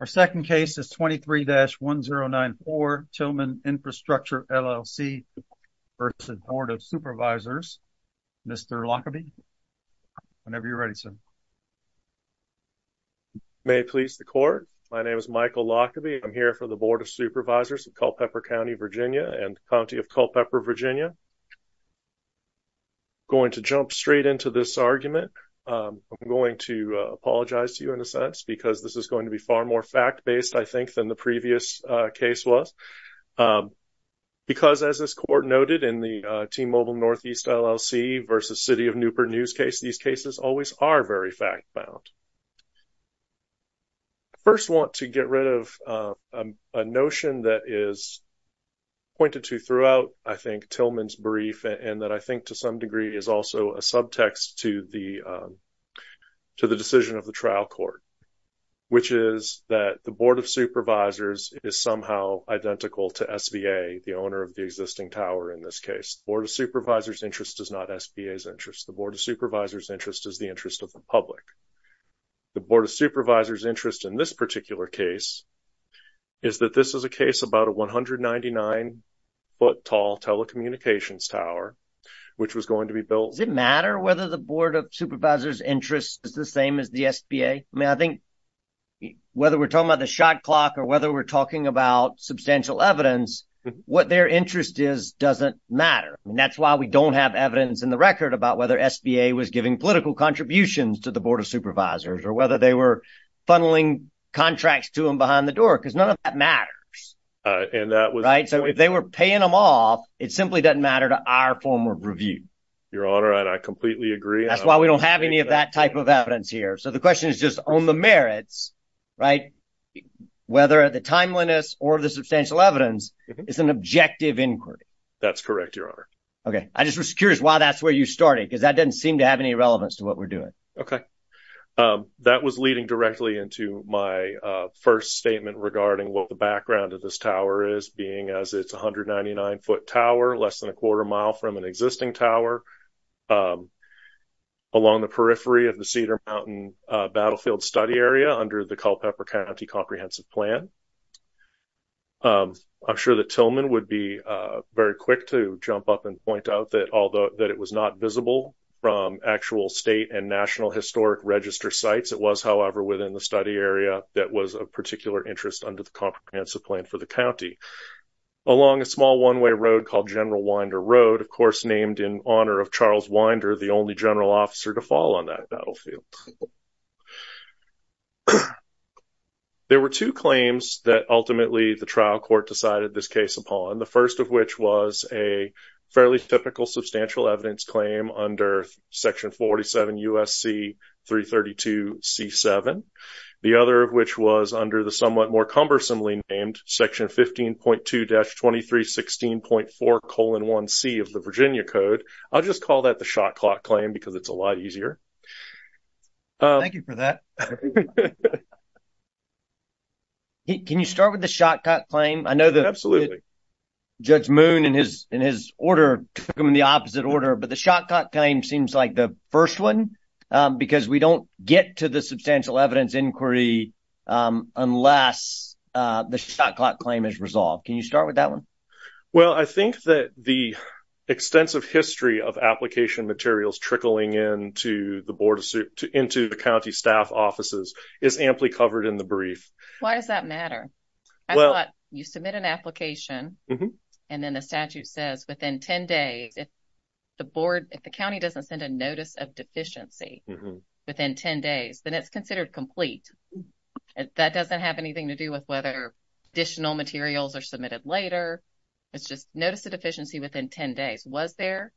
Our second case is 23-1094 Tillman Infrastructure LLC v. Board of Supervisors. Mr. Lockaby, whenever you're ready, sir. May it please the court, my name is Michael Lockaby. I'm here for the Board of Supervisors of Culpeper County, Virginia and County of Culpeper, Virginia. I'm going to jump straight into this argument. I'm going to apologize to you in a sense because this is going to be far more fact-based, I think, than the previous case was. Because as this court noted in the T-Mobile Northeast LLC v. City of Newport News case, these cases always are very fact-bound. I first want to get rid of a notion that is pointed to throughout, I think, Tillman's brief and that I think to some degree is also a subtext to the decision of the trial court. Which is that the Board of Supervisors is somehow identical to SBA, the owner of the existing tower in this case. The Board of Supervisors' interest is not SBA's interest. The Board of Supervisors' interest is the interest of the public. The Board of Supervisors' interest in this particular case is that this is a case about a 199-foot tall telecommunications tower which was going to be built... Does it matter whether the Board of Supervisors' interest is the same as the SBA? I mean, I think whether we're talking about the shot clock or whether we're talking about substantial evidence, what their interest is doesn't matter. That's why we don't have evidence in the record about whether SBA was giving political contributions to the Board of Supervisors or whether they were funneling contracts to them behind the door. Because none of that matters. Right? So if they were paying them off, it simply doesn't matter to our form of review. Your Honor, I completely agree. That's why we don't have any of that type of evidence here. So the question is just on the merits, right, whether the timeliness or the substantial evidence is an objective inquiry. That's correct, Your Honor. Okay. I just was curious why that's where you started because that doesn't seem to have any relevance to what we're doing. Okay. That was leading directly into my first statement regarding what the background of this tower, less than a quarter mile from an existing tower, along the periphery of the Cedar Mountain Battlefield Study Area under the Culpeper County Comprehensive Plan. I'm sure that Tillman would be very quick to jump up and point out that although that it was not visible from actual state and national historic register sites, it was, however, within the study area that was of particular interest under the comprehensive plan for the county. Along a small one-way road called General Winder Road, of course named in honor of Charles Winder, the only general officer to fall on that battlefield. There were two claims that ultimately the trial court decided this case upon, the first of which was a fairly typical substantial evidence claim under Section 47 U.S.C. 332 C-7, the other of which was under the somewhat more cumbersomely named Section 15.2-2316.4-1C of the Virginia Code. I'll just call that the Shot Clock Claim because it's a lot easier. Thank you for that. Can you start with the Shot Clock Claim? I know that Judge Moon in his order took them in the opposite order, but the Shot Clock Claim seems like the first one because we don't get to the substantial evidence inquiry unless the Shot Clock Claim is resolved. Can you start with that one? Well, I think that the extensive history of application materials trickling into the board of, into the county staff offices is amply covered in the brief. Why does that matter? I thought you submit an application and then the statute says within 10 days. If the board, if the county doesn't send a Notice of Deficiency within 10 days, then it's considered complete. That doesn't have anything to do with whether additional materials are submitted later. It's just Notice of Deficiency within 10 days. Was there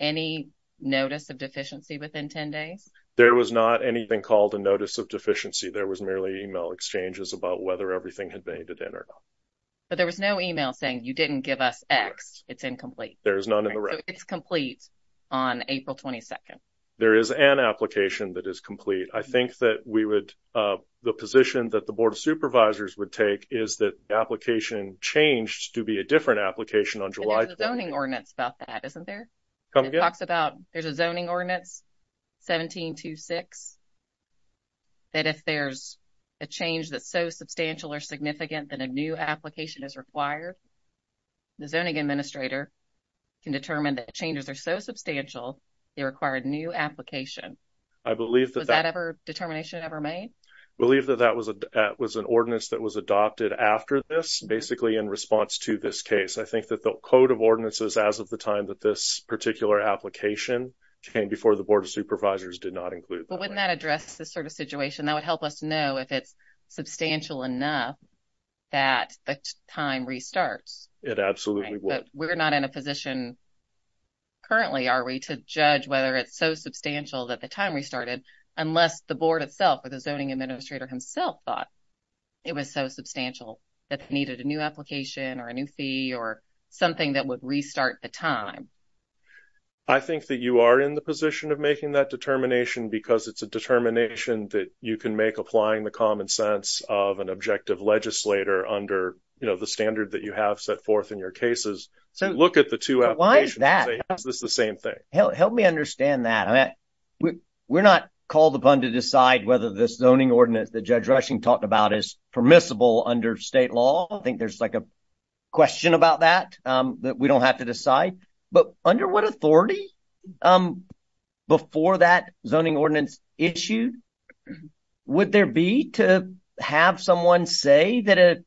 any Notice of Deficiency within 10 days? There was not anything called a Notice of Deficiency. There was merely email exchanges about whether everything had made it in or not. But there was no email saying you didn't give us X. It's incomplete. There is none in the record. It's complete on April 22nd. There is an application that is complete. I think that we would, the position that the Board of Supervisors would take is that the application changed to be a different application on July 2nd. There's a zoning ordinance about that, isn't there? It talks about, there's a zoning ordinance, 17-2-6, that if there's a change that's so substantial or significant that a new application is required, the zoning administrator can determine that changes are so substantial they require a new application. Was that determination ever made? I believe that that was an ordinance that was adopted after this, basically in response to this case. I think that the code of ordinances as of the time that this particular application came before the Board of Supervisors did not include that. But wouldn't that address this sort of situation? That would help us know if it's substantial enough that the time restarts. It absolutely would. We're not in a position currently, are we, to judge whether it's so substantial that the time restarted, unless the Board itself or the zoning administrator himself thought it was so substantial that they needed a new application or a new fee or something that would restart the time. I think that you are in the position of making that determination because it's a determination that you can make applying the common sense of an objective legislator under the standard that you have set forth in your cases. So look at the two applications and say, is this the same thing? Help me understand that. We're not called upon to decide whether this zoning ordinance that Judge Rushing talked about is permissible under state law. I think there's like a question about that that we don't have to decide. But under what authority, before that zoning ordinance issued, would there be to have someone say that a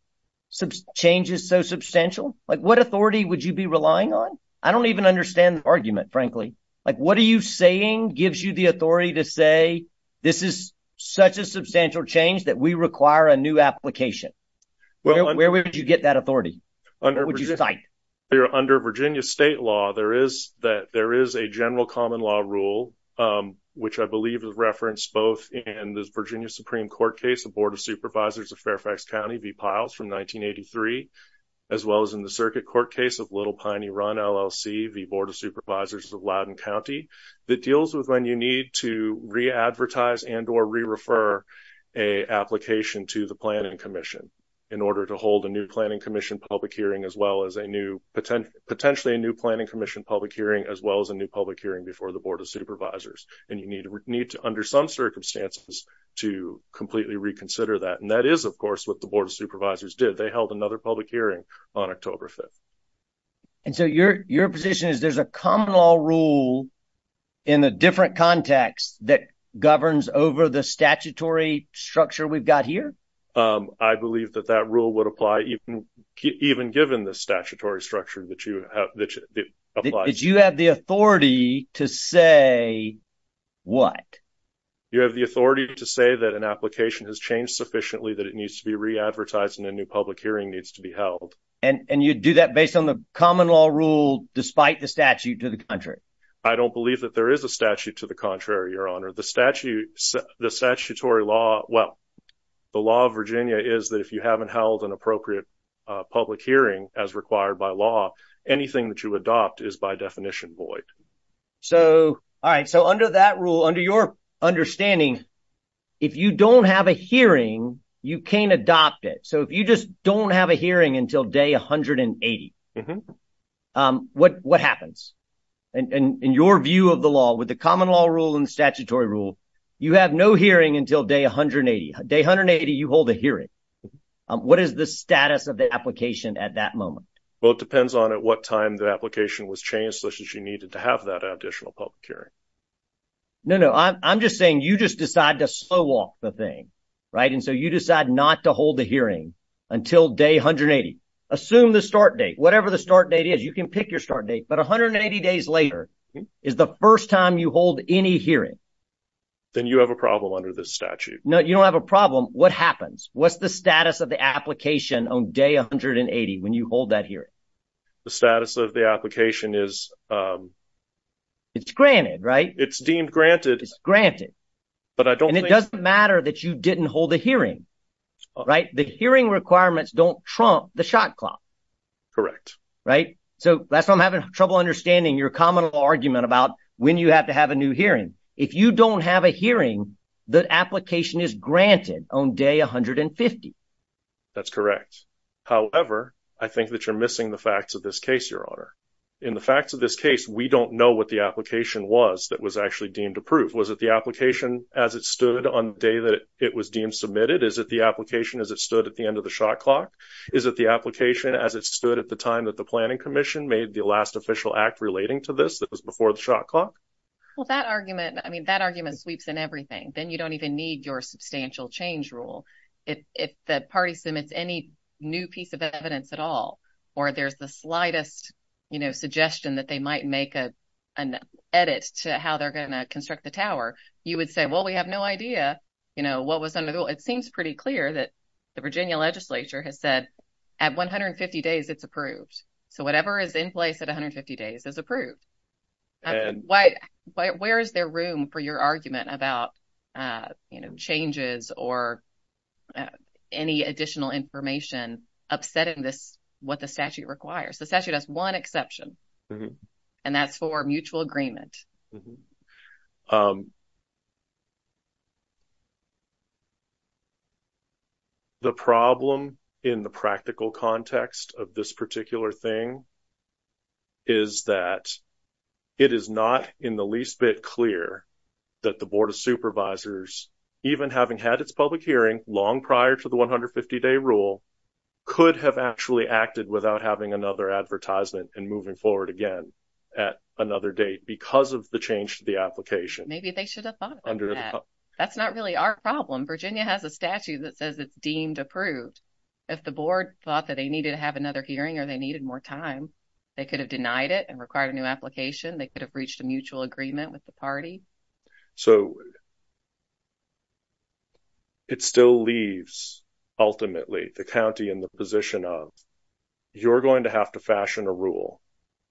change is so substantial? What authority would you be relying on? I don't even understand the argument, frankly. What are you saying gives you the authority to say this is such a substantial change that we require a new application? Where would you get that authority? Under Virginia state law, there is a general common law rule, which I believe is referenced both in the Virginia Supreme Court case of Board of Supervisors of Fairfax County v. Piles from 1983, as well as in the circuit court case of Little Piney Run LLC v. Board of Supervisors of Loudoun County, that deals with when you need to re-advertise and or re-refer an application to the Planning Commission in order to hold a new Planning Commission public hearing as well as a new, potentially a new Planning Commission public hearing, as well as a new public hearing before the Board of Supervisors. And you need to, under some circumstances, to completely reconsider that. And that is, of course, what the Board of Supervisors did. They held another public hearing on October 5th. And so your position is there's a common law rule in a different context that governs over the statutory structure we've got here? I believe that that rule would apply even given the statutory structure that you have. That you have the authority to say what? You have the authority to say that an application has changed sufficiently, that it needs to be re-advertised, and a new public hearing needs to be held. And you do that based on the common law rule despite the statute to the contrary? I don't believe that there is a statute to the contrary, Your Honor. The statute, the statutory law, well, the law of Virginia is that if you haven't held an hearing, the application that you adopt is by definition void. So, all right. So, under that rule, under your understanding, if you don't have a hearing, you can't adopt it. So, if you just don't have a hearing until day 180, what happens? And in your view of the law, with the common law rule and the statutory rule, you have no hearing until day 180. Day 180, you hold a hearing. What is the status of the application at that moment? Well, it depends on at what time the application was changed, such as you needed to have that additional public hearing. No, no. I'm just saying you just decide to slow off the thing, right? And so, you decide not to hold the hearing until day 180. Assume the start date, whatever the start date is. You can pick your start date. But 180 days later is the first time you hold any hearing. Then you have a problem under this statute. No, you don't have a problem. What happens? What's the status of the application on day 180 when you hold that hearing? The status of the application is... It's granted, right? It's deemed granted. It's granted. But I don't think... And it doesn't matter that you didn't hold a hearing, right? The hearing requirements don't trump the shot clock. Correct. Right? So, that's why I'm having trouble understanding your common law argument about when you have to have a new hearing. If you don't have a hearing, the application is granted on day 150. That's correct. However, I think that you're missing the facts of this case, your honor. In the facts of this case, we don't know what the application was that was actually deemed approved. Was it the application as it stood on the day that it was deemed submitted? Is it the application as it stood at the end of the shot clock? Is it the application as it stood at the time that the Planning Commission made the last official act relating to this that was before the shot clock? Well, that argument, I mean, that argument sweeps in everything. Then you don't even need your substantial change rule. If the party submits any new piece of evidence at all, or there's the slightest suggestion that they might make an edit to how they're going to construct the tower, you would say, well, we have no idea what was under the rule. It seems pretty clear that the Virginia legislature has said, at 150 days, it's approved. So, whatever is in place at 150 days is approved. And where is there room for your argument about, you know, changes or any additional information upsetting this, what the statute requires? The statute has one exception, and that's for mutual agreement. The problem in the practical context of this particular thing is that it is not in the least bit clear that the Board of Supervisors, even having had its public hearing long prior to the 150-day rule, could have actually acted without having another advertisement and moving forward again at another date because of the change to the application. Maybe they should have thought about that. That's not really our problem. Virginia has a statute that says it's deemed approved. If the board thought that they needed to have another hearing or they needed more time, they could have denied it and required a new application. They could have reached a mutual agreement with the party. So, it still leaves, ultimately, the county in the position of, you're going to have to fashion a rule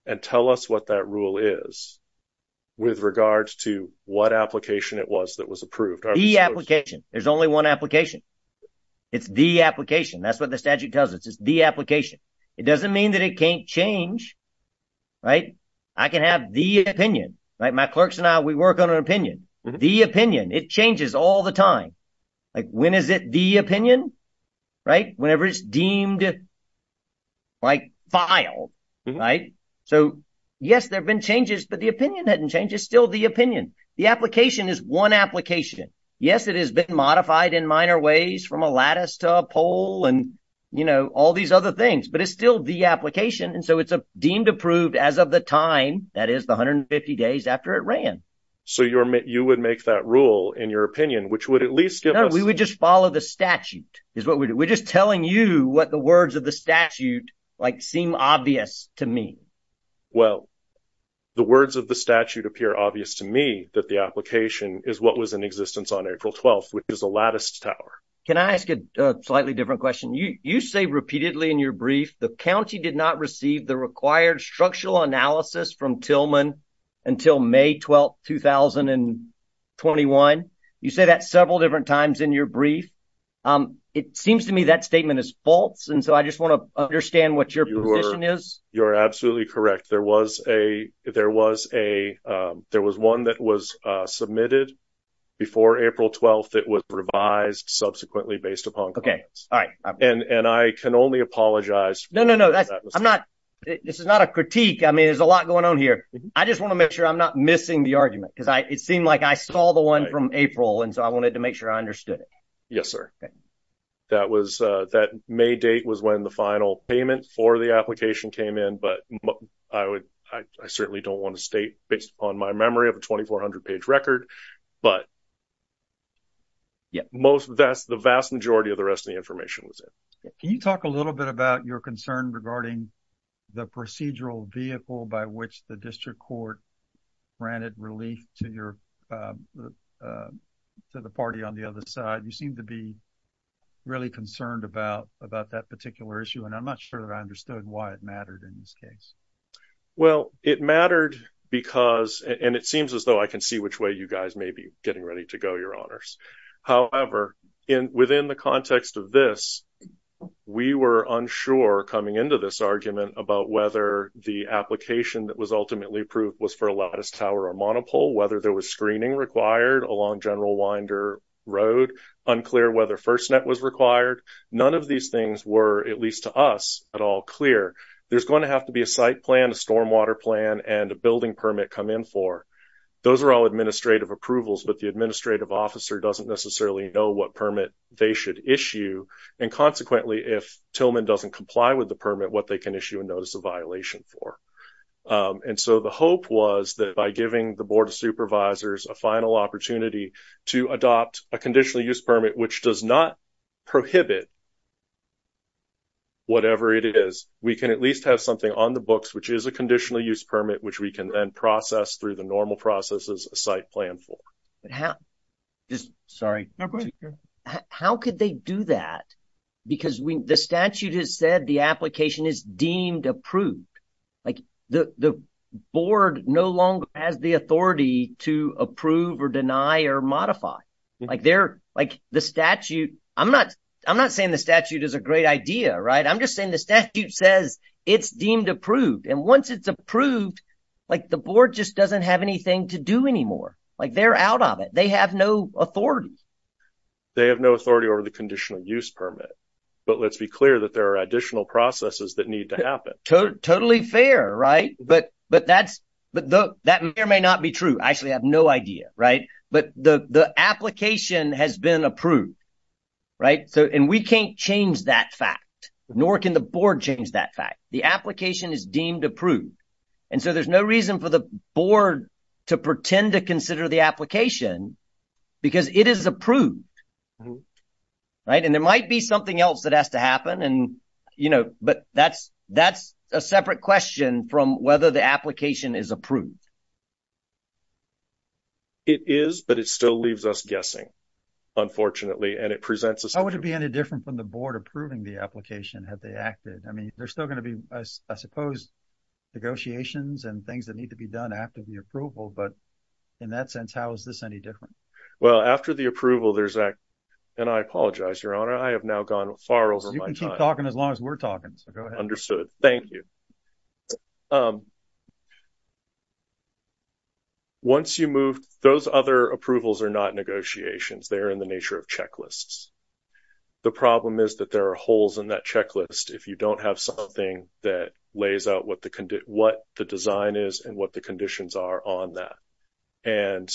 and tell us what that rule is with regards to what application it was that was approved. The application. There's only one application. It's the application. That's what the statute tells us. It's the application. It doesn't mean that it can't change. I can have the opinion. My clerks and I, we work on an opinion. The opinion. It changes all the time. When is it the opinion? Whenever it's deemed filed. So, yes, there have been changes, but the opinion hasn't changed. It's still the opinion. The application is one application. Yes, it has been modified in minor ways from a lattice to a pole and all these other things, but it's still the application. So, it's deemed approved as of the time, that is, the 150 days after it ran. So, you would make that rule in your opinion, which would at least give us... No, we would just follow the statute is what we do. We're just telling you what the words of the statute seem obvious to me. Well, the words of the statute appear obvious to me that the application is what was in existence on April 12th, which is a lattice tower. Can I ask a slightly different question? You say repeatedly in your brief, the county did not receive the required structural analysis from Tillman until May 12th, 2021. You say that several different times in your brief. It seems to me that statement is false. And so, I just want to understand what your position is. You're absolutely correct. There was one that was submitted before April 12th that was revised subsequently based upon comments. And I can only apologize... No, no, no. This is not a critique. I mean, there's a lot going on here. I just want to make sure I'm not missing the argument because it seemed like I saw the one from April. And so, I wanted to make sure I understood it. Yes, sir. That May date was when the final payment for the application came in, but I certainly don't want to state based upon my memory of a 2400 page record. But that's the vast majority of the rest of the information was in. Can you talk a little bit about your concern regarding the procedural vehicle by which the district court granted relief to the party on the other side? You seem to be really concerned about that particular issue. And I'm not sure that I understood why it mattered in this case. Well, it mattered because... You guys may be getting ready to go, your honors. However, within the context of this, we were unsure coming into this argument about whether the application that was ultimately approved was for a lattice tower or monopole, whether there was screening required along General Winder Road, unclear whether FirstNet was required. None of these things were, at least to us, at all clear. There's going to have to be a site plan, a stormwater plan, and a building permit come in for. Those are all administrative approvals, but the administrative officer doesn't necessarily know what permit they should issue. And consequently, if Tillman doesn't comply with the permit, what they can issue a notice of violation for. And so the hope was that by giving the Board of Supervisors a final opportunity to adopt a conditional use permit, which does not prohibit whatever it is, we can at least have something on the books, which is a conditional use permit, which we can then process through the normal processes a site plan for. But how, just, sorry. No, go ahead. How could they do that? Because the statute has said the application is deemed approved. Like the Board no longer has the authority to approve or deny or modify. Like they're, like the statute, I'm not saying the statute is a great idea, right? I'm just saying the statute says it's deemed approved. And once it's approved, like the Board just doesn't have anything to do anymore. Like they're out of it. They have no authority. They have no authority over the conditional use permit. But let's be clear that there are additional processes that need to happen. Totally fair, right? But that may or may not be true. I actually have no idea, right? But the application has been approved, right? And we can't change that fact, nor can the Board change that fact. The application is deemed approved. And so there's no reason for the Board to pretend to consider the application. Because it is approved, right? And there might be something else that has to happen. And, you know, but that's a separate question from whether the application is approved. It is, but it still leaves us guessing, unfortunately. And it presents us. How would it be any different from the Board approving the application? Have they acted? I mean, there's still going to be, I suppose, negotiations and things that need to be done after the approval. But in that sense, how is this any different? Well, after the approval, there's that. And I apologize, Your Honor. I have now gone far over my time. You can keep talking as long as we're talking. So go ahead. Understood. Thank you. Once you move, those other approvals are not negotiations. They are in the nature of checklists. The problem is that there are holes in that checklist. If you don't have something that lays out what the design is and what the conditions are on that. And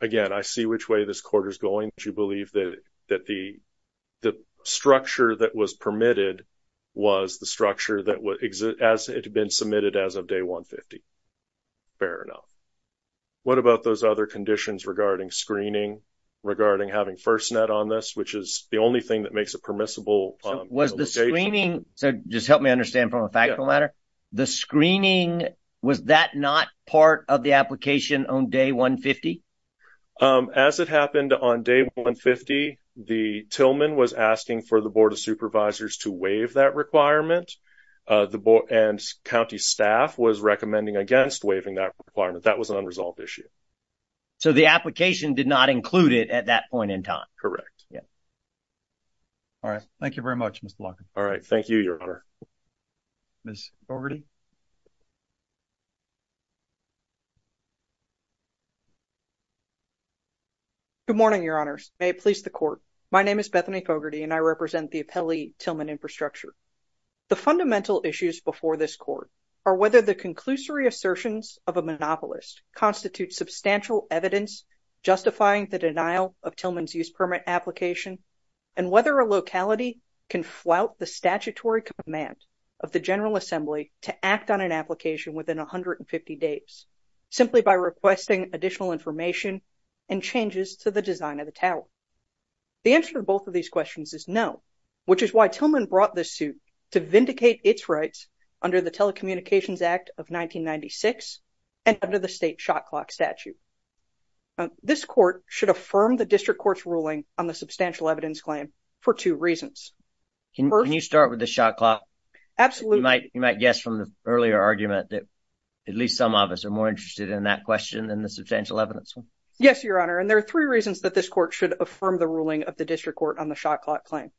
again, I see which way this quarter is going. You believe that the structure that was permitted was the structure that would exist as it had been submitted as of day 150. Fair enough. What about those other conditions regarding screening, regarding having FirstNet on this, which is the only thing that makes it permissible? Was the screening? So just help me understand from a factual matter. The screening, was that not part of the application on day 150? As it happened on day 150, the Tillman was asking for the Board of Supervisors to waive that requirement. And county staff was recommending against waiving that requirement. That was an unresolved issue. So the application did not include it at that point in time. Correct. Yeah. All right. Thank you very much, Mr. Blanken. All right. Thank you, Your Honor. Ms. Fogarty. Good morning, Your Honors. May it please the Court. My name is Bethany Fogarty and I represent the Appellee Tillman Infrastructure. The fundamental issues before this Court are whether the conclusory assertions of a monopolist constitute substantial evidence justifying the denial of Tillman's use permit application, and whether a locality can flout the statutory command of the General Assembly to act on an application within 150 days, simply by requesting additional information and changes to the design of the tower. The answer to both of these questions is no, which is why Tillman brought this suit to vindicate its rights under the Telecommunications Act of 1996 and under the state shot clock statute. This Court should affirm the district court's ruling on the substantial evidence claim for two reasons. Can you start with the shot clock? Absolutely. You might guess from the earlier argument that at least some of us are more interested in that question than the substantial evidence one. Yes, Your Honor. And there are three reasons that this Court should affirm the ruling of the district court on the shot clock claim.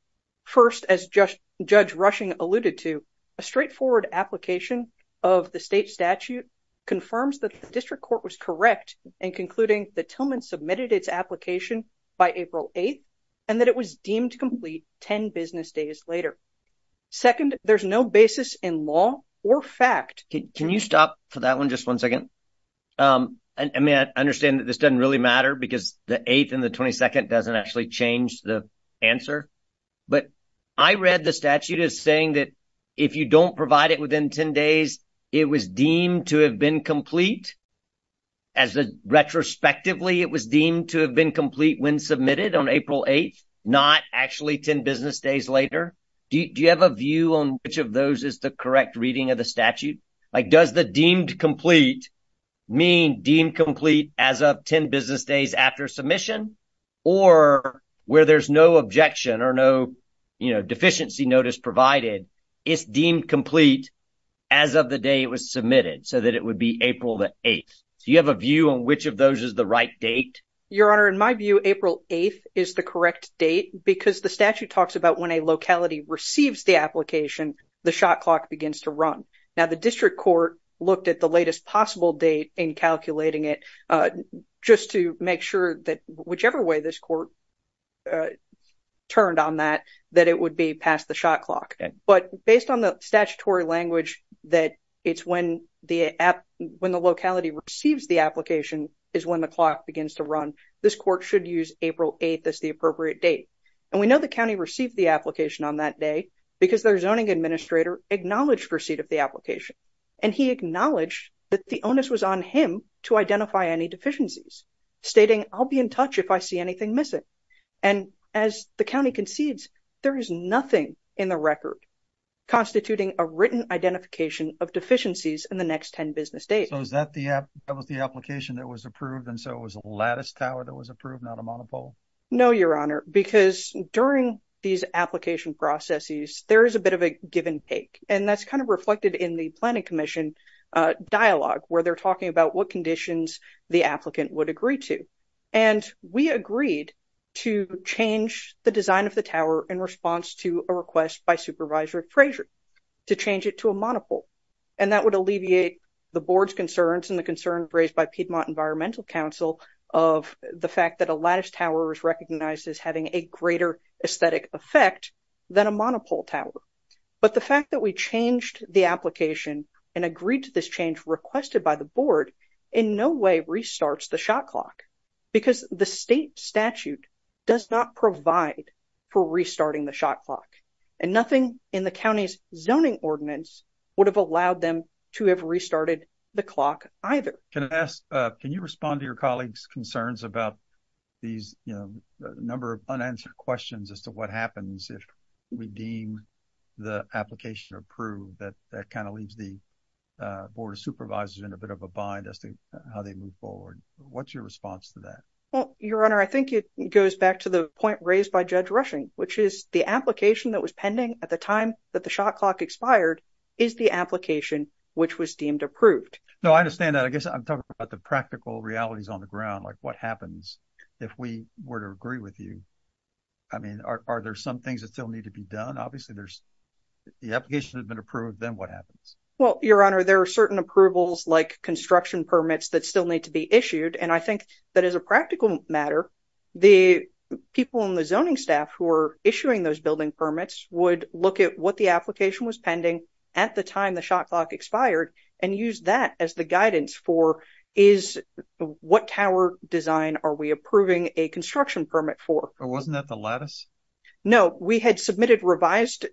First, as Judge Rushing alluded to, a straightforward application of the state statute confirms that the district court was correct in concluding that Tillman submitted its application by April 8th and that it was deemed complete 10 business days later. Second, there's no basis in law or fact. Can you stop for that one just one second? I mean, I understand that this doesn't really matter because the 8th and the 22nd doesn't actually change the answer, but I read the statute as saying that if you don't provide it within 10 days, it was deemed to have been complete as the retrospectively, it was deemed to have been complete when submitted on April 8th, not actually 10 business days later. Do you have a view on which of those is the correct reading of the statute? Like does the deemed complete mean deemed complete as of 10 business days after submission or where there's no objection or no deficiency notice provided, it's deemed complete as of the day it was submitted so that it would be April the 8th. Do you have a view on which of those is the right date? Your Honor, in my view, April 8th is the correct date because the statute talks about when a locality receives the application, the shot clock begins to run. Now the district court looked at the latest possible date in calculating it just to make sure that whichever way this court turned on that, that it would be past the shot clock. But based on the statutory language, that it's when the locality receives the application is when the clock begins to run. This court should use April 8th as the appropriate date. And we know the county received the application on that day because their zoning administrator acknowledged receipt of the application. And he acknowledged that the onus was on him to identify any deficiencies, stating, I'll be in touch if I see anything missing. And as the county concedes, there is nothing in the record constituting a written identification of deficiencies in the next 10 business days. So is that the application that was approved? And so it was a lattice tower that was approved, not a monopole? No, Your Honor, because during these application processes, there is a bit of a give and take. And that's kind of reflected in the Planning Commission dialogue where they're talking about what conditions the applicant would agree to. And we agreed to change the design of the tower in response to a request by Supervisor Frazier to change it to a monopole. And that would alleviate the board's concerns and the concerns raised by Piedmont Environmental Council of the fact that a lattice tower is recognized as having a greater aesthetic effect than a monopole tower. But the fact that we changed the application and agreed to this change requested by the board in no way restarts the shot clock, because the state statute does not provide for restarting the shot clock. And nothing in the county's zoning ordinance would have allowed them to have restarted the clock either. Can I ask, can you respond to your colleagues' concerns about these number of unanswered questions as to what happens if we deem the application approved? That kind of leaves the Board of Supervisors in a bit of a bind as to how they move forward. What's your response to that? Well, Your Honor, I think it goes back to the point raised by Judge Rushing, which is the application that was pending at the time that the shot clock expired is the application which was deemed approved. No, I understand that. I guess I'm talking about the practical realities on the ground, like what happens if we were to agree with you? I mean, are there some things that still need to be done? Obviously, if the application has been approved, then what happens? Well, Your Honor, there are certain approvals, like construction permits, that still need to be issued. And I think that as a practical matter, the people in the zoning staff who are issuing those building permits would look at what the application was pending at the time the shot clock expired and use that as the guidance for what tower design are we approving a construction permit for? Wasn't that the lattice? No, we had submitted revised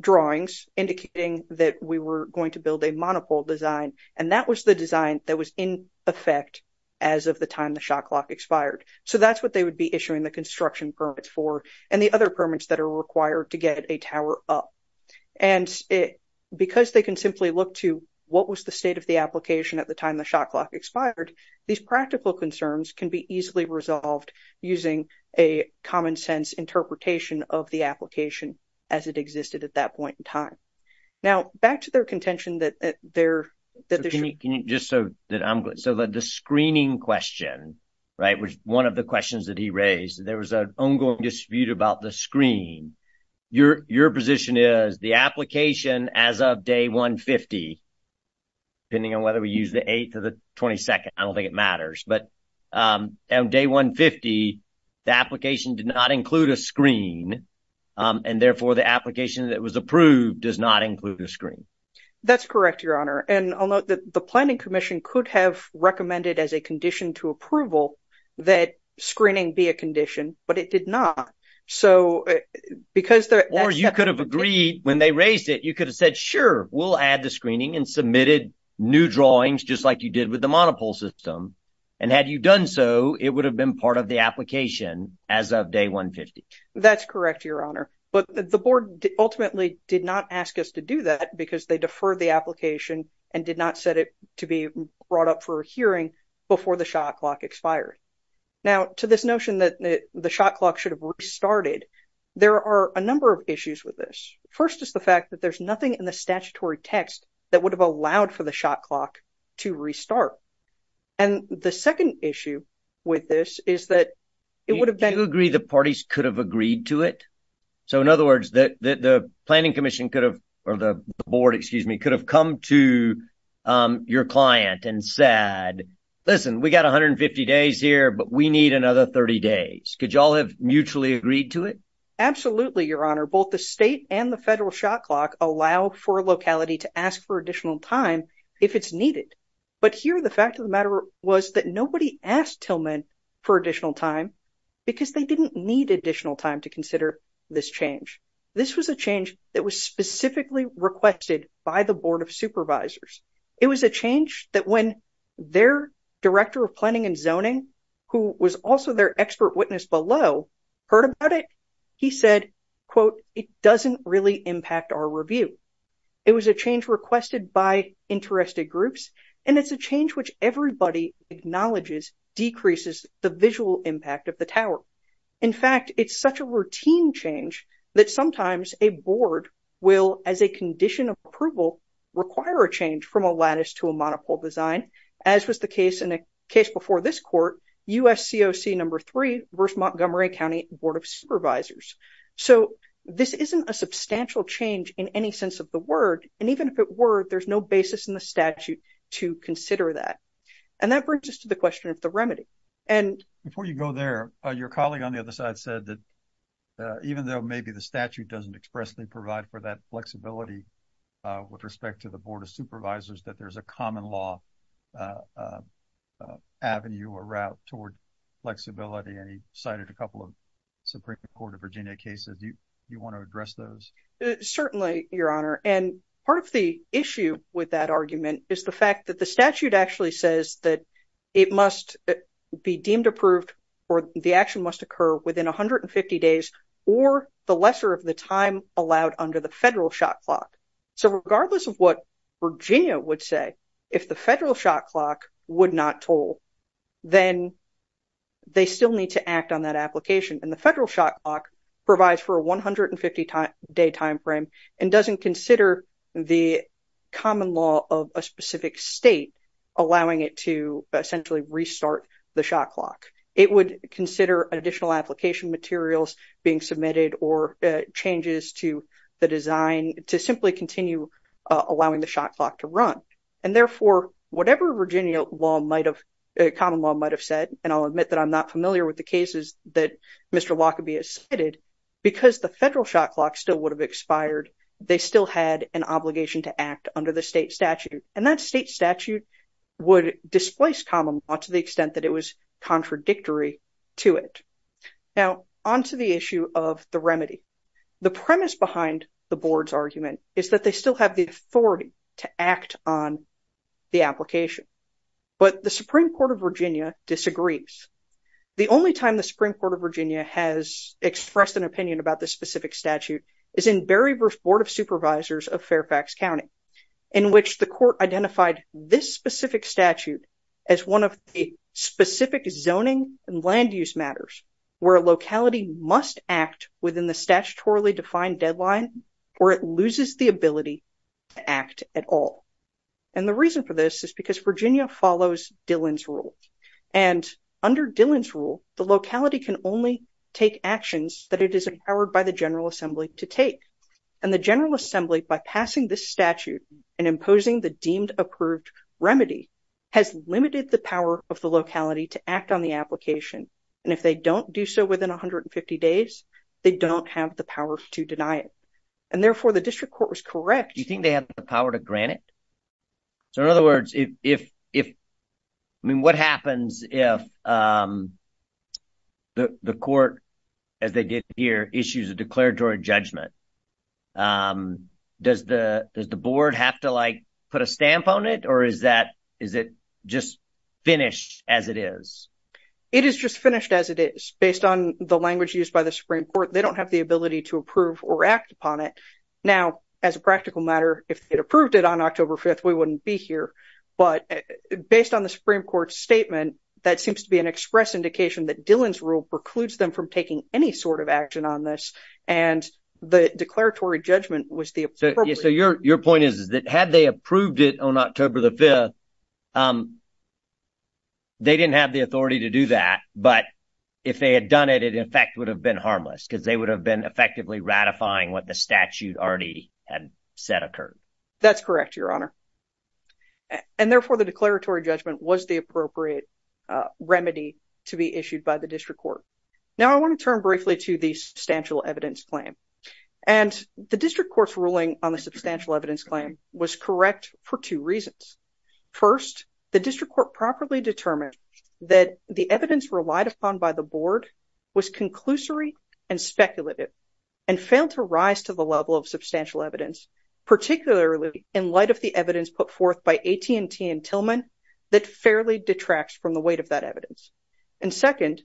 drawings indicating that we were going to build a monopole design, and that was the design that was in effect as of the time the shot clock expired. So that's what they would be issuing the construction permits for and the other permits that are required to get a tower up. And because they can simply look to what was the state of the application at the time the shot clock expired, these practical concerns can be easily resolved using a common sense interpretation of the application as it existed at that point in time. Now, back to their contention that they're... Just so that I'm... So the screening question, right, was one of the questions that he raised. There was an ongoing dispute about the screen. Your position is the application as of day 150, depending on whether we use the 8th or the 22nd, I don't think it matters. But on day 150, the application did not include a screen, and therefore the application that was approved does not include the screen. That's correct, Your Honor. And I'll note that the Planning Commission could have recommended as a condition to approval that screening be a condition, but it did not. So because there... Or you could have agreed when they raised it, you could have said, sure, we'll add the screening and submitted new drawings, just like you did with the monopole system. Had you done so, it would have been part of the application as of day 150. That's correct, Your Honor. But the board ultimately did not ask us to do that because they deferred the application and did not set it to be brought up for hearing before the shot clock expired. Now, to this notion that the shot clock should have restarted, there are a number of issues with this. First is the fact that there's nothing in the statutory text that would have allowed for the shot clock to restart. And the second issue with this is that it would have been... Do you agree the parties could have agreed to it? So in other words, the Planning Commission could have, or the board, excuse me, could have come to your client and said, listen, we got 150 days here, but we need another 30 days. Could you all have mutually agreed to it? Absolutely, Your Honor. Both the state and the federal shot clock allow for locality to ask for additional time if it's needed. But here, the fact of the matter was that nobody asked Tillman for additional time because they didn't need additional time to consider this change. This was a change that was specifically requested by the Board of Supervisors. It was a change that when their Director of Planning and Zoning, who was also their expert witness below, heard about it, he said, quote, it doesn't really impact our review. It was a change requested by interested groups, and it's a change which everybody acknowledges decreases the visual impact of the tower. In fact, it's such a routine change that sometimes a board will, as a condition of approval, require a change from a lattice to a monopole design, as was the case in a case before this court, USCOC number three versus Montgomery County Board of Supervisors. So this isn't a substantial change in any sense of the word. And even if it were, there's no basis in the statute to consider that. And that brings us to the question of the remedy. And before you go there, your colleague on the other side said that even though maybe the statute doesn't expressly provide for that flexibility with respect to the Board of Supervisors, that there's a common law avenue or route toward flexibility. And he cited a couple of Supreme Court of Virginia cases. Do you want to address those? Certainly, Your Honor. And part of the issue with that argument is the fact that the statute actually says that it must be deemed approved or the action must occur within 150 days or the lesser of the time allowed under the federal shot clock. So regardless of what Virginia would say, if the federal shot clock would not toll, then they still need to act on that application. And the federal shot clock provides for 150 day time frame and doesn't consider the common law of a specific state allowing it to essentially restart the shot clock. It would consider additional application materials being submitted or changes to the design to simply continue allowing the shot clock to run. And therefore, whatever Virginia law might have, common law might have said, and I'll admit that I'm not familiar with the cases that Mr. Wacoby has cited, because the federal shot clock still would have expired, they still had an obligation to act under the state statute. And that state statute would displace common law to the extent that it was contradictory to it. Now, onto the issue of the remedy. The premise behind the board's argument is that they still have the authority to act on the application. But the Supreme Court of Virginia disagrees. The only time the Supreme Court of Virginia has expressed an opinion about this specific statute is in Berry v. Board of Supervisors of Fairfax County, in which the court identified this specific statute as one of the specific zoning and land use matters where a locality must act within the statutorily defined deadline or it loses the ability to act at all. And the reason for this is because Virginia follows Dillon's rule. And under Dillon's rule, the locality can only take actions that it is empowered by the General Assembly to take. And the General Assembly, by passing this statute and imposing the deemed approved remedy, has limited the power of the locality to act on the application. And if they don't do so within 150 days, they don't have the power to deny it. And therefore, the district court was correct. Do you think they have the power to grant it? So in other words, if, I mean, what happens if the court, as they did here, issues a declaratory judgment? Does the board have to like put a stamp on it? Or is that, is it just finished as it is? It is just finished as it is. Based on the language used by the Supreme Court, they don't have the ability to approve or act upon it. Now, as a practical matter, if they'd approved it on October 5th, we wouldn't be here. But based on the Supreme Court statement, that seems to be an express indication that Dillon's rule precludes them from taking any sort of action on this. And the declaratory judgment was the appropriate. So your point is that had they approved it on October the 5th, they didn't have the authority to do that. But if they had done it, it in fact would have been harmless. Because they would have been effectively ratifying what the statute already had said occurred. That's correct, Your Honor. And therefore, the declaratory judgment was the appropriate remedy to be issued by the district court. Now, I want to turn briefly to the substantial evidence claim. And the district court's ruling on the substantial evidence claim First, the district court properly determined that the evidence relied upon by the board was conclusory and speculative and failed to rise to the level of substantial evidence, particularly in light of the evidence put forth by AT&T and Tillman that fairly detracts from the weight of that evidence. And second,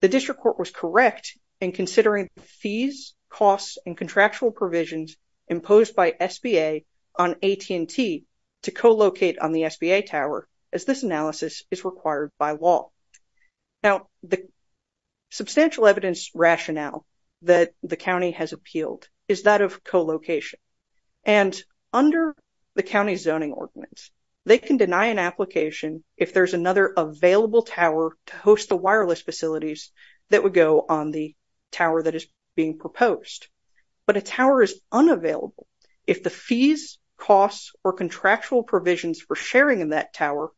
the district court was correct in considering fees, costs, and contractual provisions imposed by SBA on AT&T to co-locate on the SBA tower as this analysis is required by law. Now, the substantial evidence rationale that the county has appealed is that of co-location. And under the county zoning ordinance, they can deny an application if there's another available tower to host the wireless facilities that would go on the tower that is being proposed. But a tower is unavailable if the fees, costs, or contractual provisions for sharing in that tower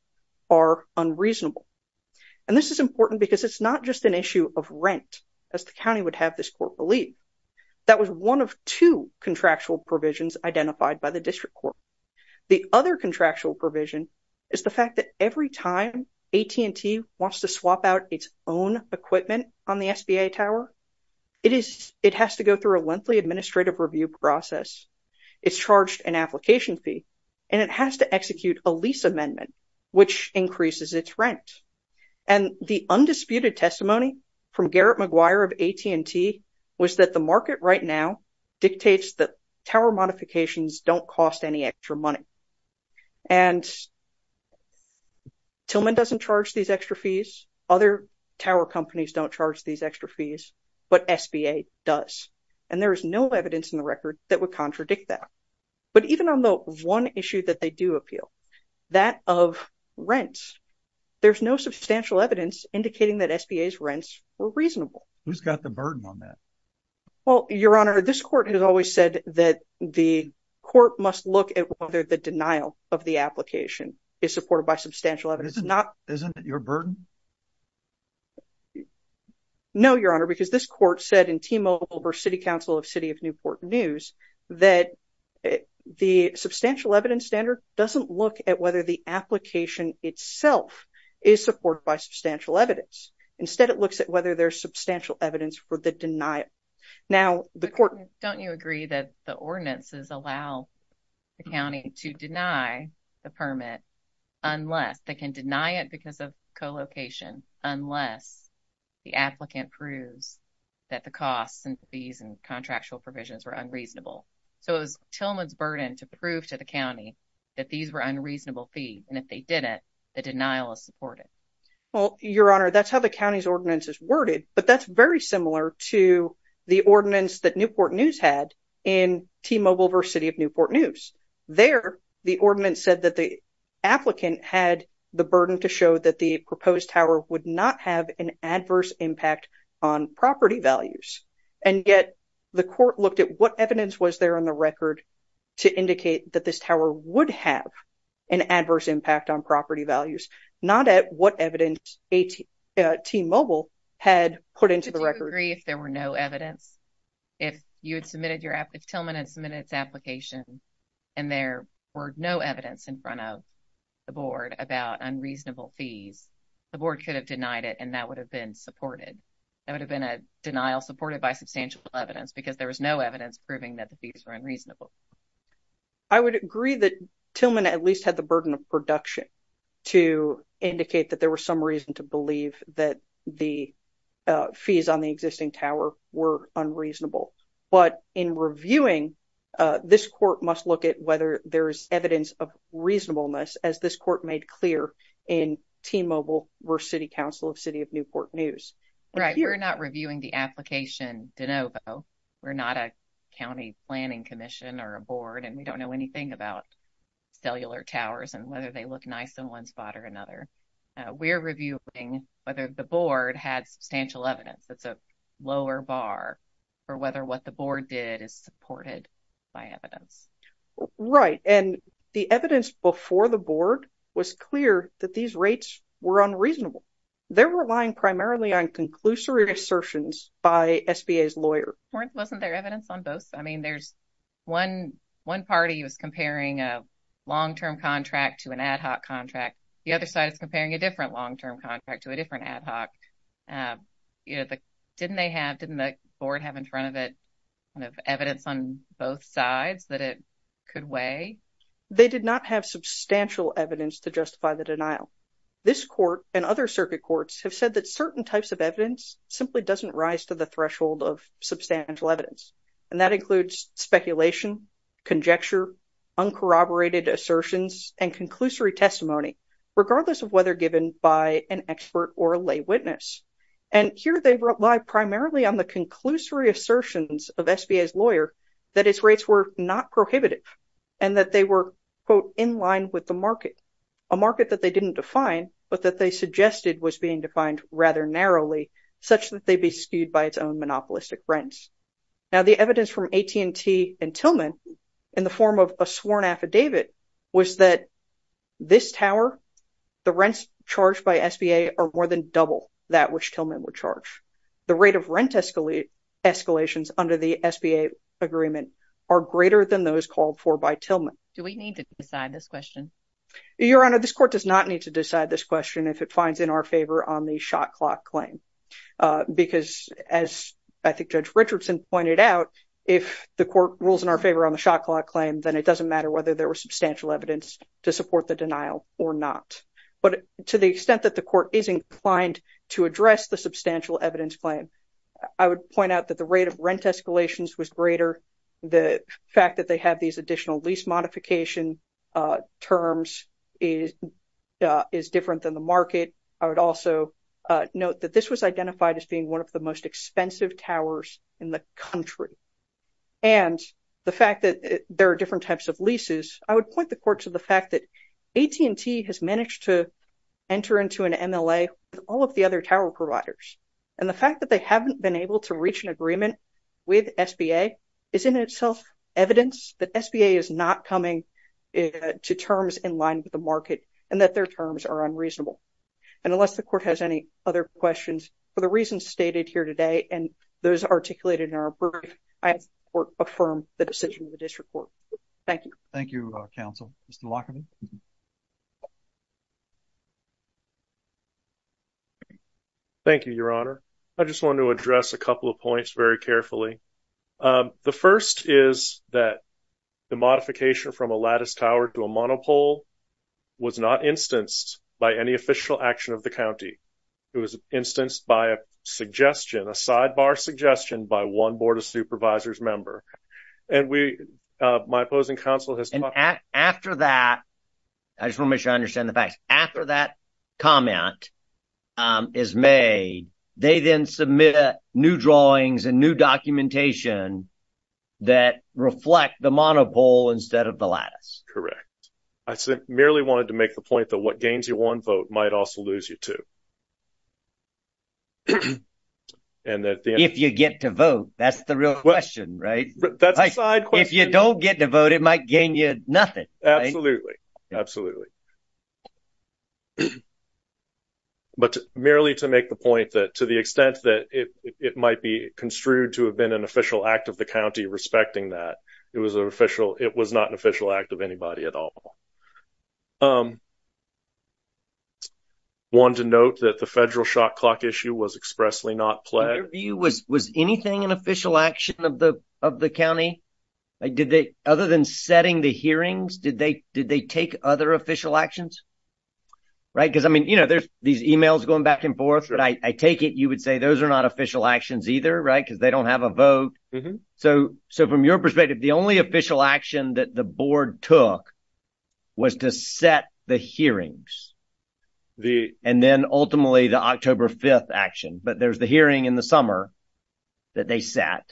are unreasonable. And this is important because it's not just an issue of rent as the county would have this court believe. That was one of two contractual provisions identified by the district court. The other contractual provision is the fact that every time AT&T wants to swap out its own equipment on the SBA tower, it has to go through a lengthy administrative review process. It's charged an application fee and it has to execute a lease amendment which increases its rent. And the undisputed testimony from Garrett McGuire of AT&T was that the market right now dictates that tower modifications don't cost any extra money. And Tillman doesn't charge these extra fees. Other tower companies don't charge these extra fees, but SBA does. And there is no evidence in the record that would contradict that. But even on the one issue that they do appeal, that of rent. There's no substantial evidence indicating that SBA's rents were reasonable. Who's got the burden on that? Well, Your Honor, this court has always said that the court must look at whether the denial of the application is supported by substantial evidence. Isn't it your burden? No, Your Honor, because this court said in T-Mobile versus City Council of City of Newport News that the substantial evidence standard doesn't look at whether the application itself is supported by substantial evidence. Instead, it looks at whether there's substantial evidence for the denial. Now, the court... Don't you agree that the ordinances allow the county to deny the permit unless they can deny it because of co-location, unless the applicant proves that the costs and fees and contractual provisions were unreasonable. So it was Tillman's burden to prove to the county that these were unreasonable fees. And if they didn't, the denial is supported. Well, Your Honor, that's how the county's ordinance is worded. But that's very similar to the ordinance that Newport News had in T-Mobile versus City of Newport News. There, the ordinance said that the applicant had the burden to show that the proposed tower would not have an adverse impact on property values. And yet the court looked at what evidence was there on the record to indicate that this tower would have an adverse impact on property values, not at what evidence T-Mobile had put into the record. Do you agree if there were no evidence? If Tillman had submitted its application and there were no evidence in front of the board about unreasonable fees, the board could have denied it and that would have been supported. That would have been a denial supported by substantial evidence because there was no evidence proving that the fees were unreasonable. I would agree that Tillman at least had the burden of production to indicate that there was some reason to believe that the fees on the existing tower were unreasonable. But in reviewing, this court must look at whether there is evidence of reasonableness, as this court made clear in T-Mobile versus City Council of City of Newport News. Right, we're not reviewing the application de novo. We're not a county planning commission. And we don't know anything about cellular towers and whether they look nice in one spot or another. We're reviewing whether the board had substantial evidence. That's a lower bar for whether what the board did is supported by evidence. Right, and the evidence before the board was clear that these rates were unreasonable. They're relying primarily on conclusory assertions by SBA's lawyer. Wasn't there evidence on both? There's one party was comparing a long-term contract to an ad hoc contract. The other side is comparing a different long-term contract to a different ad hoc. Didn't they have, didn't the board have in front of it evidence on both sides that it could weigh? They did not have substantial evidence to justify the denial. This court and other circuit courts have said that certain types of evidence simply doesn't rise to the threshold of substantial evidence. And that includes speculation, conjecture, uncorroborated assertions, and conclusory testimony, regardless of whether given by an expert or a lay witness. And here they rely primarily on the conclusory assertions of SBA's lawyer that its rates were not prohibitive and that they were quote in line with the market, a market that they didn't define, but that they suggested was being defined rather narrowly, such that they be skewed by its own monopolistic brands. Now the evidence from AT&T and Tillman in the form of a sworn affidavit was that this tower, the rents charged by SBA are more than double that which Tillman would charge. The rate of rent escalate escalations under the SBA agreement are greater than those called for by Tillman. Do we need to decide this question? Your Honor, this court does not need to decide this question if it finds in our favor on the shot clock claim. Because as I think Judge Richardson pointed out, if the court rules in our favor on the shot clock claim, then it doesn't matter whether there was substantial evidence to support the denial or not. But to the extent that the court is inclined to address the substantial evidence claim, I would point out that the rate of rent escalations was greater. The fact that they have these additional lease modification terms is different than the market. I would also note that this was identified as being one of the most expensive towers in the country. And the fact that there are different types of leases, I would point the court to the fact that AT&T has managed to enter into an MLA with all of the other tower providers. And the fact that they haven't been able to reach an agreement with SBA is in itself evidence that SBA is not coming to terms in line with the market and that their terms are unreasonable. And unless the court has any other questions, for the reasons stated here today and those articulated in our brief, I ask the court to affirm the decision of the district court. Thank you. Thank you, counsel. Thank you, Your Honor. I just want to address a couple of points very carefully. The first is that the modification from a lattice tower to a monopole was not instanced by any official action of the county. It was instanced by a suggestion, a sidebar suggestion by one Board of Supervisors member. And we, my opposing counsel has... After that, I just want to make sure I understand the facts. After that comment is made, they then submit new drawings and new documentation that reflect the monopole instead of the lattice. Correct. I merely wanted to make the point that what gains you one vote might also lose you two. If you get to vote, that's the real question, right? If you don't get to vote, it might gain you nothing. Absolutely. But merely to make the point that to the extent that it might be construed to have been an official act of the county respecting that it was an official, it was not an official act of anybody at all. I wanted to note that the federal shot clock issue was expressly not pledged. In your view, was anything an official action of the county? Other than setting the hearings, did they take other official actions? Right? Because I mean, you know, there's these emails going back and forth, but I take it you would say those are not official actions either, right? Because they don't have a vote. So from your perspective, the only official action that the board took was to set the hearings. And then ultimately, the October 5th action. But there's the hearing in the summer that they sat.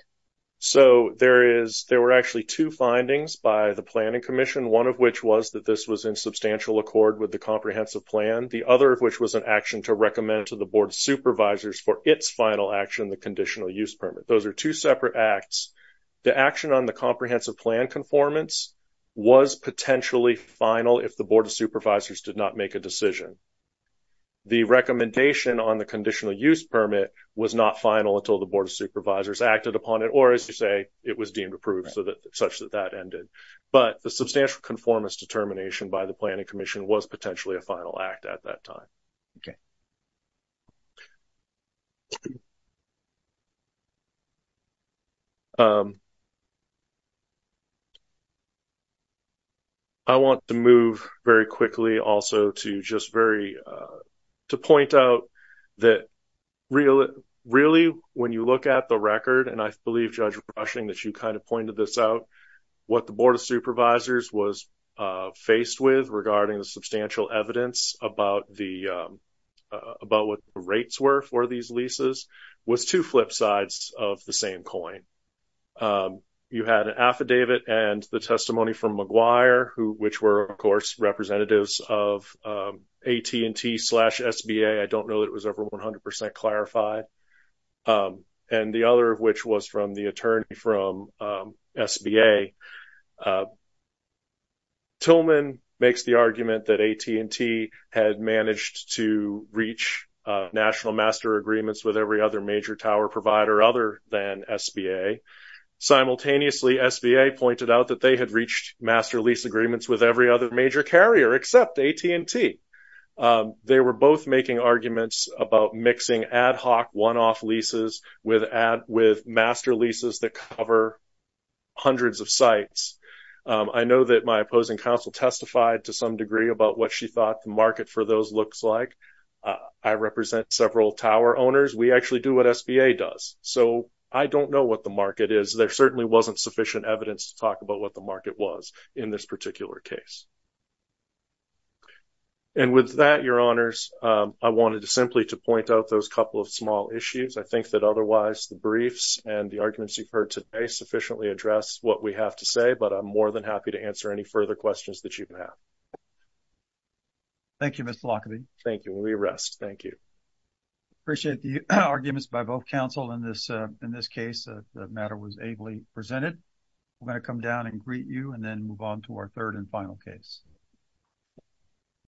So there is, there were actually two findings by the planning commission, one of which was that this was in substantial accord with the comprehensive plan. The other of which was an action to recommend to the board supervisors for its final action, the conditional use permit. Those are two separate acts. The action on the comprehensive plan conformance was potentially final if the board of supervisors did not make a decision. The recommendation on the conditional use permit was not final until the board of supervisors acted upon it, or as you say, it was deemed approved so that such that that ended. But the substantial conformance determination by the planning commission was potentially a final act at that time. Okay. I want to move very quickly also to just very to point out that really, really, when you look at the record, and I believe, Judge Rushing, that you kind of pointed this out, what the board of supervisors was faced with regarding the substantial evidence about the about what the rates were for these leases was two flip sides of the same coin. You had an affidavit and the testimony from McGuire, which were, of course, representatives of AT&T slash SBA. I don't know that it was ever 100% clarified. And the other of which was from the attorney from SBA. Tillman makes the argument that AT&T had managed to reach national master agreements with every other major tower provider other than SBA. Simultaneously, SBA pointed out that they had reached master lease agreements with every other major carrier except AT&T. They were both making arguments about mixing ad hoc one-off leases with master leases that cover hundreds of sites. I know that my opposing counsel testified to some degree about what she thought the market for those looks like. I represent several tower owners. We actually do what SBA does. So I don't know what the market is. There certainly wasn't sufficient evidence to talk about what the market was in this particular case. And with that, your honors, I wanted to simply to point out those couple of small issues. I think that otherwise, the briefs and the arguments you've heard today sufficiently address what we have to say, but I'm more than happy to answer any further questions that you can have. Thank you, Mr. Lockwood. Thank you. We rest. Thank you. I appreciate the arguments by both counsel in this case. The matter was ably presented. We're going to come down and greet you and then move on to our third and final case.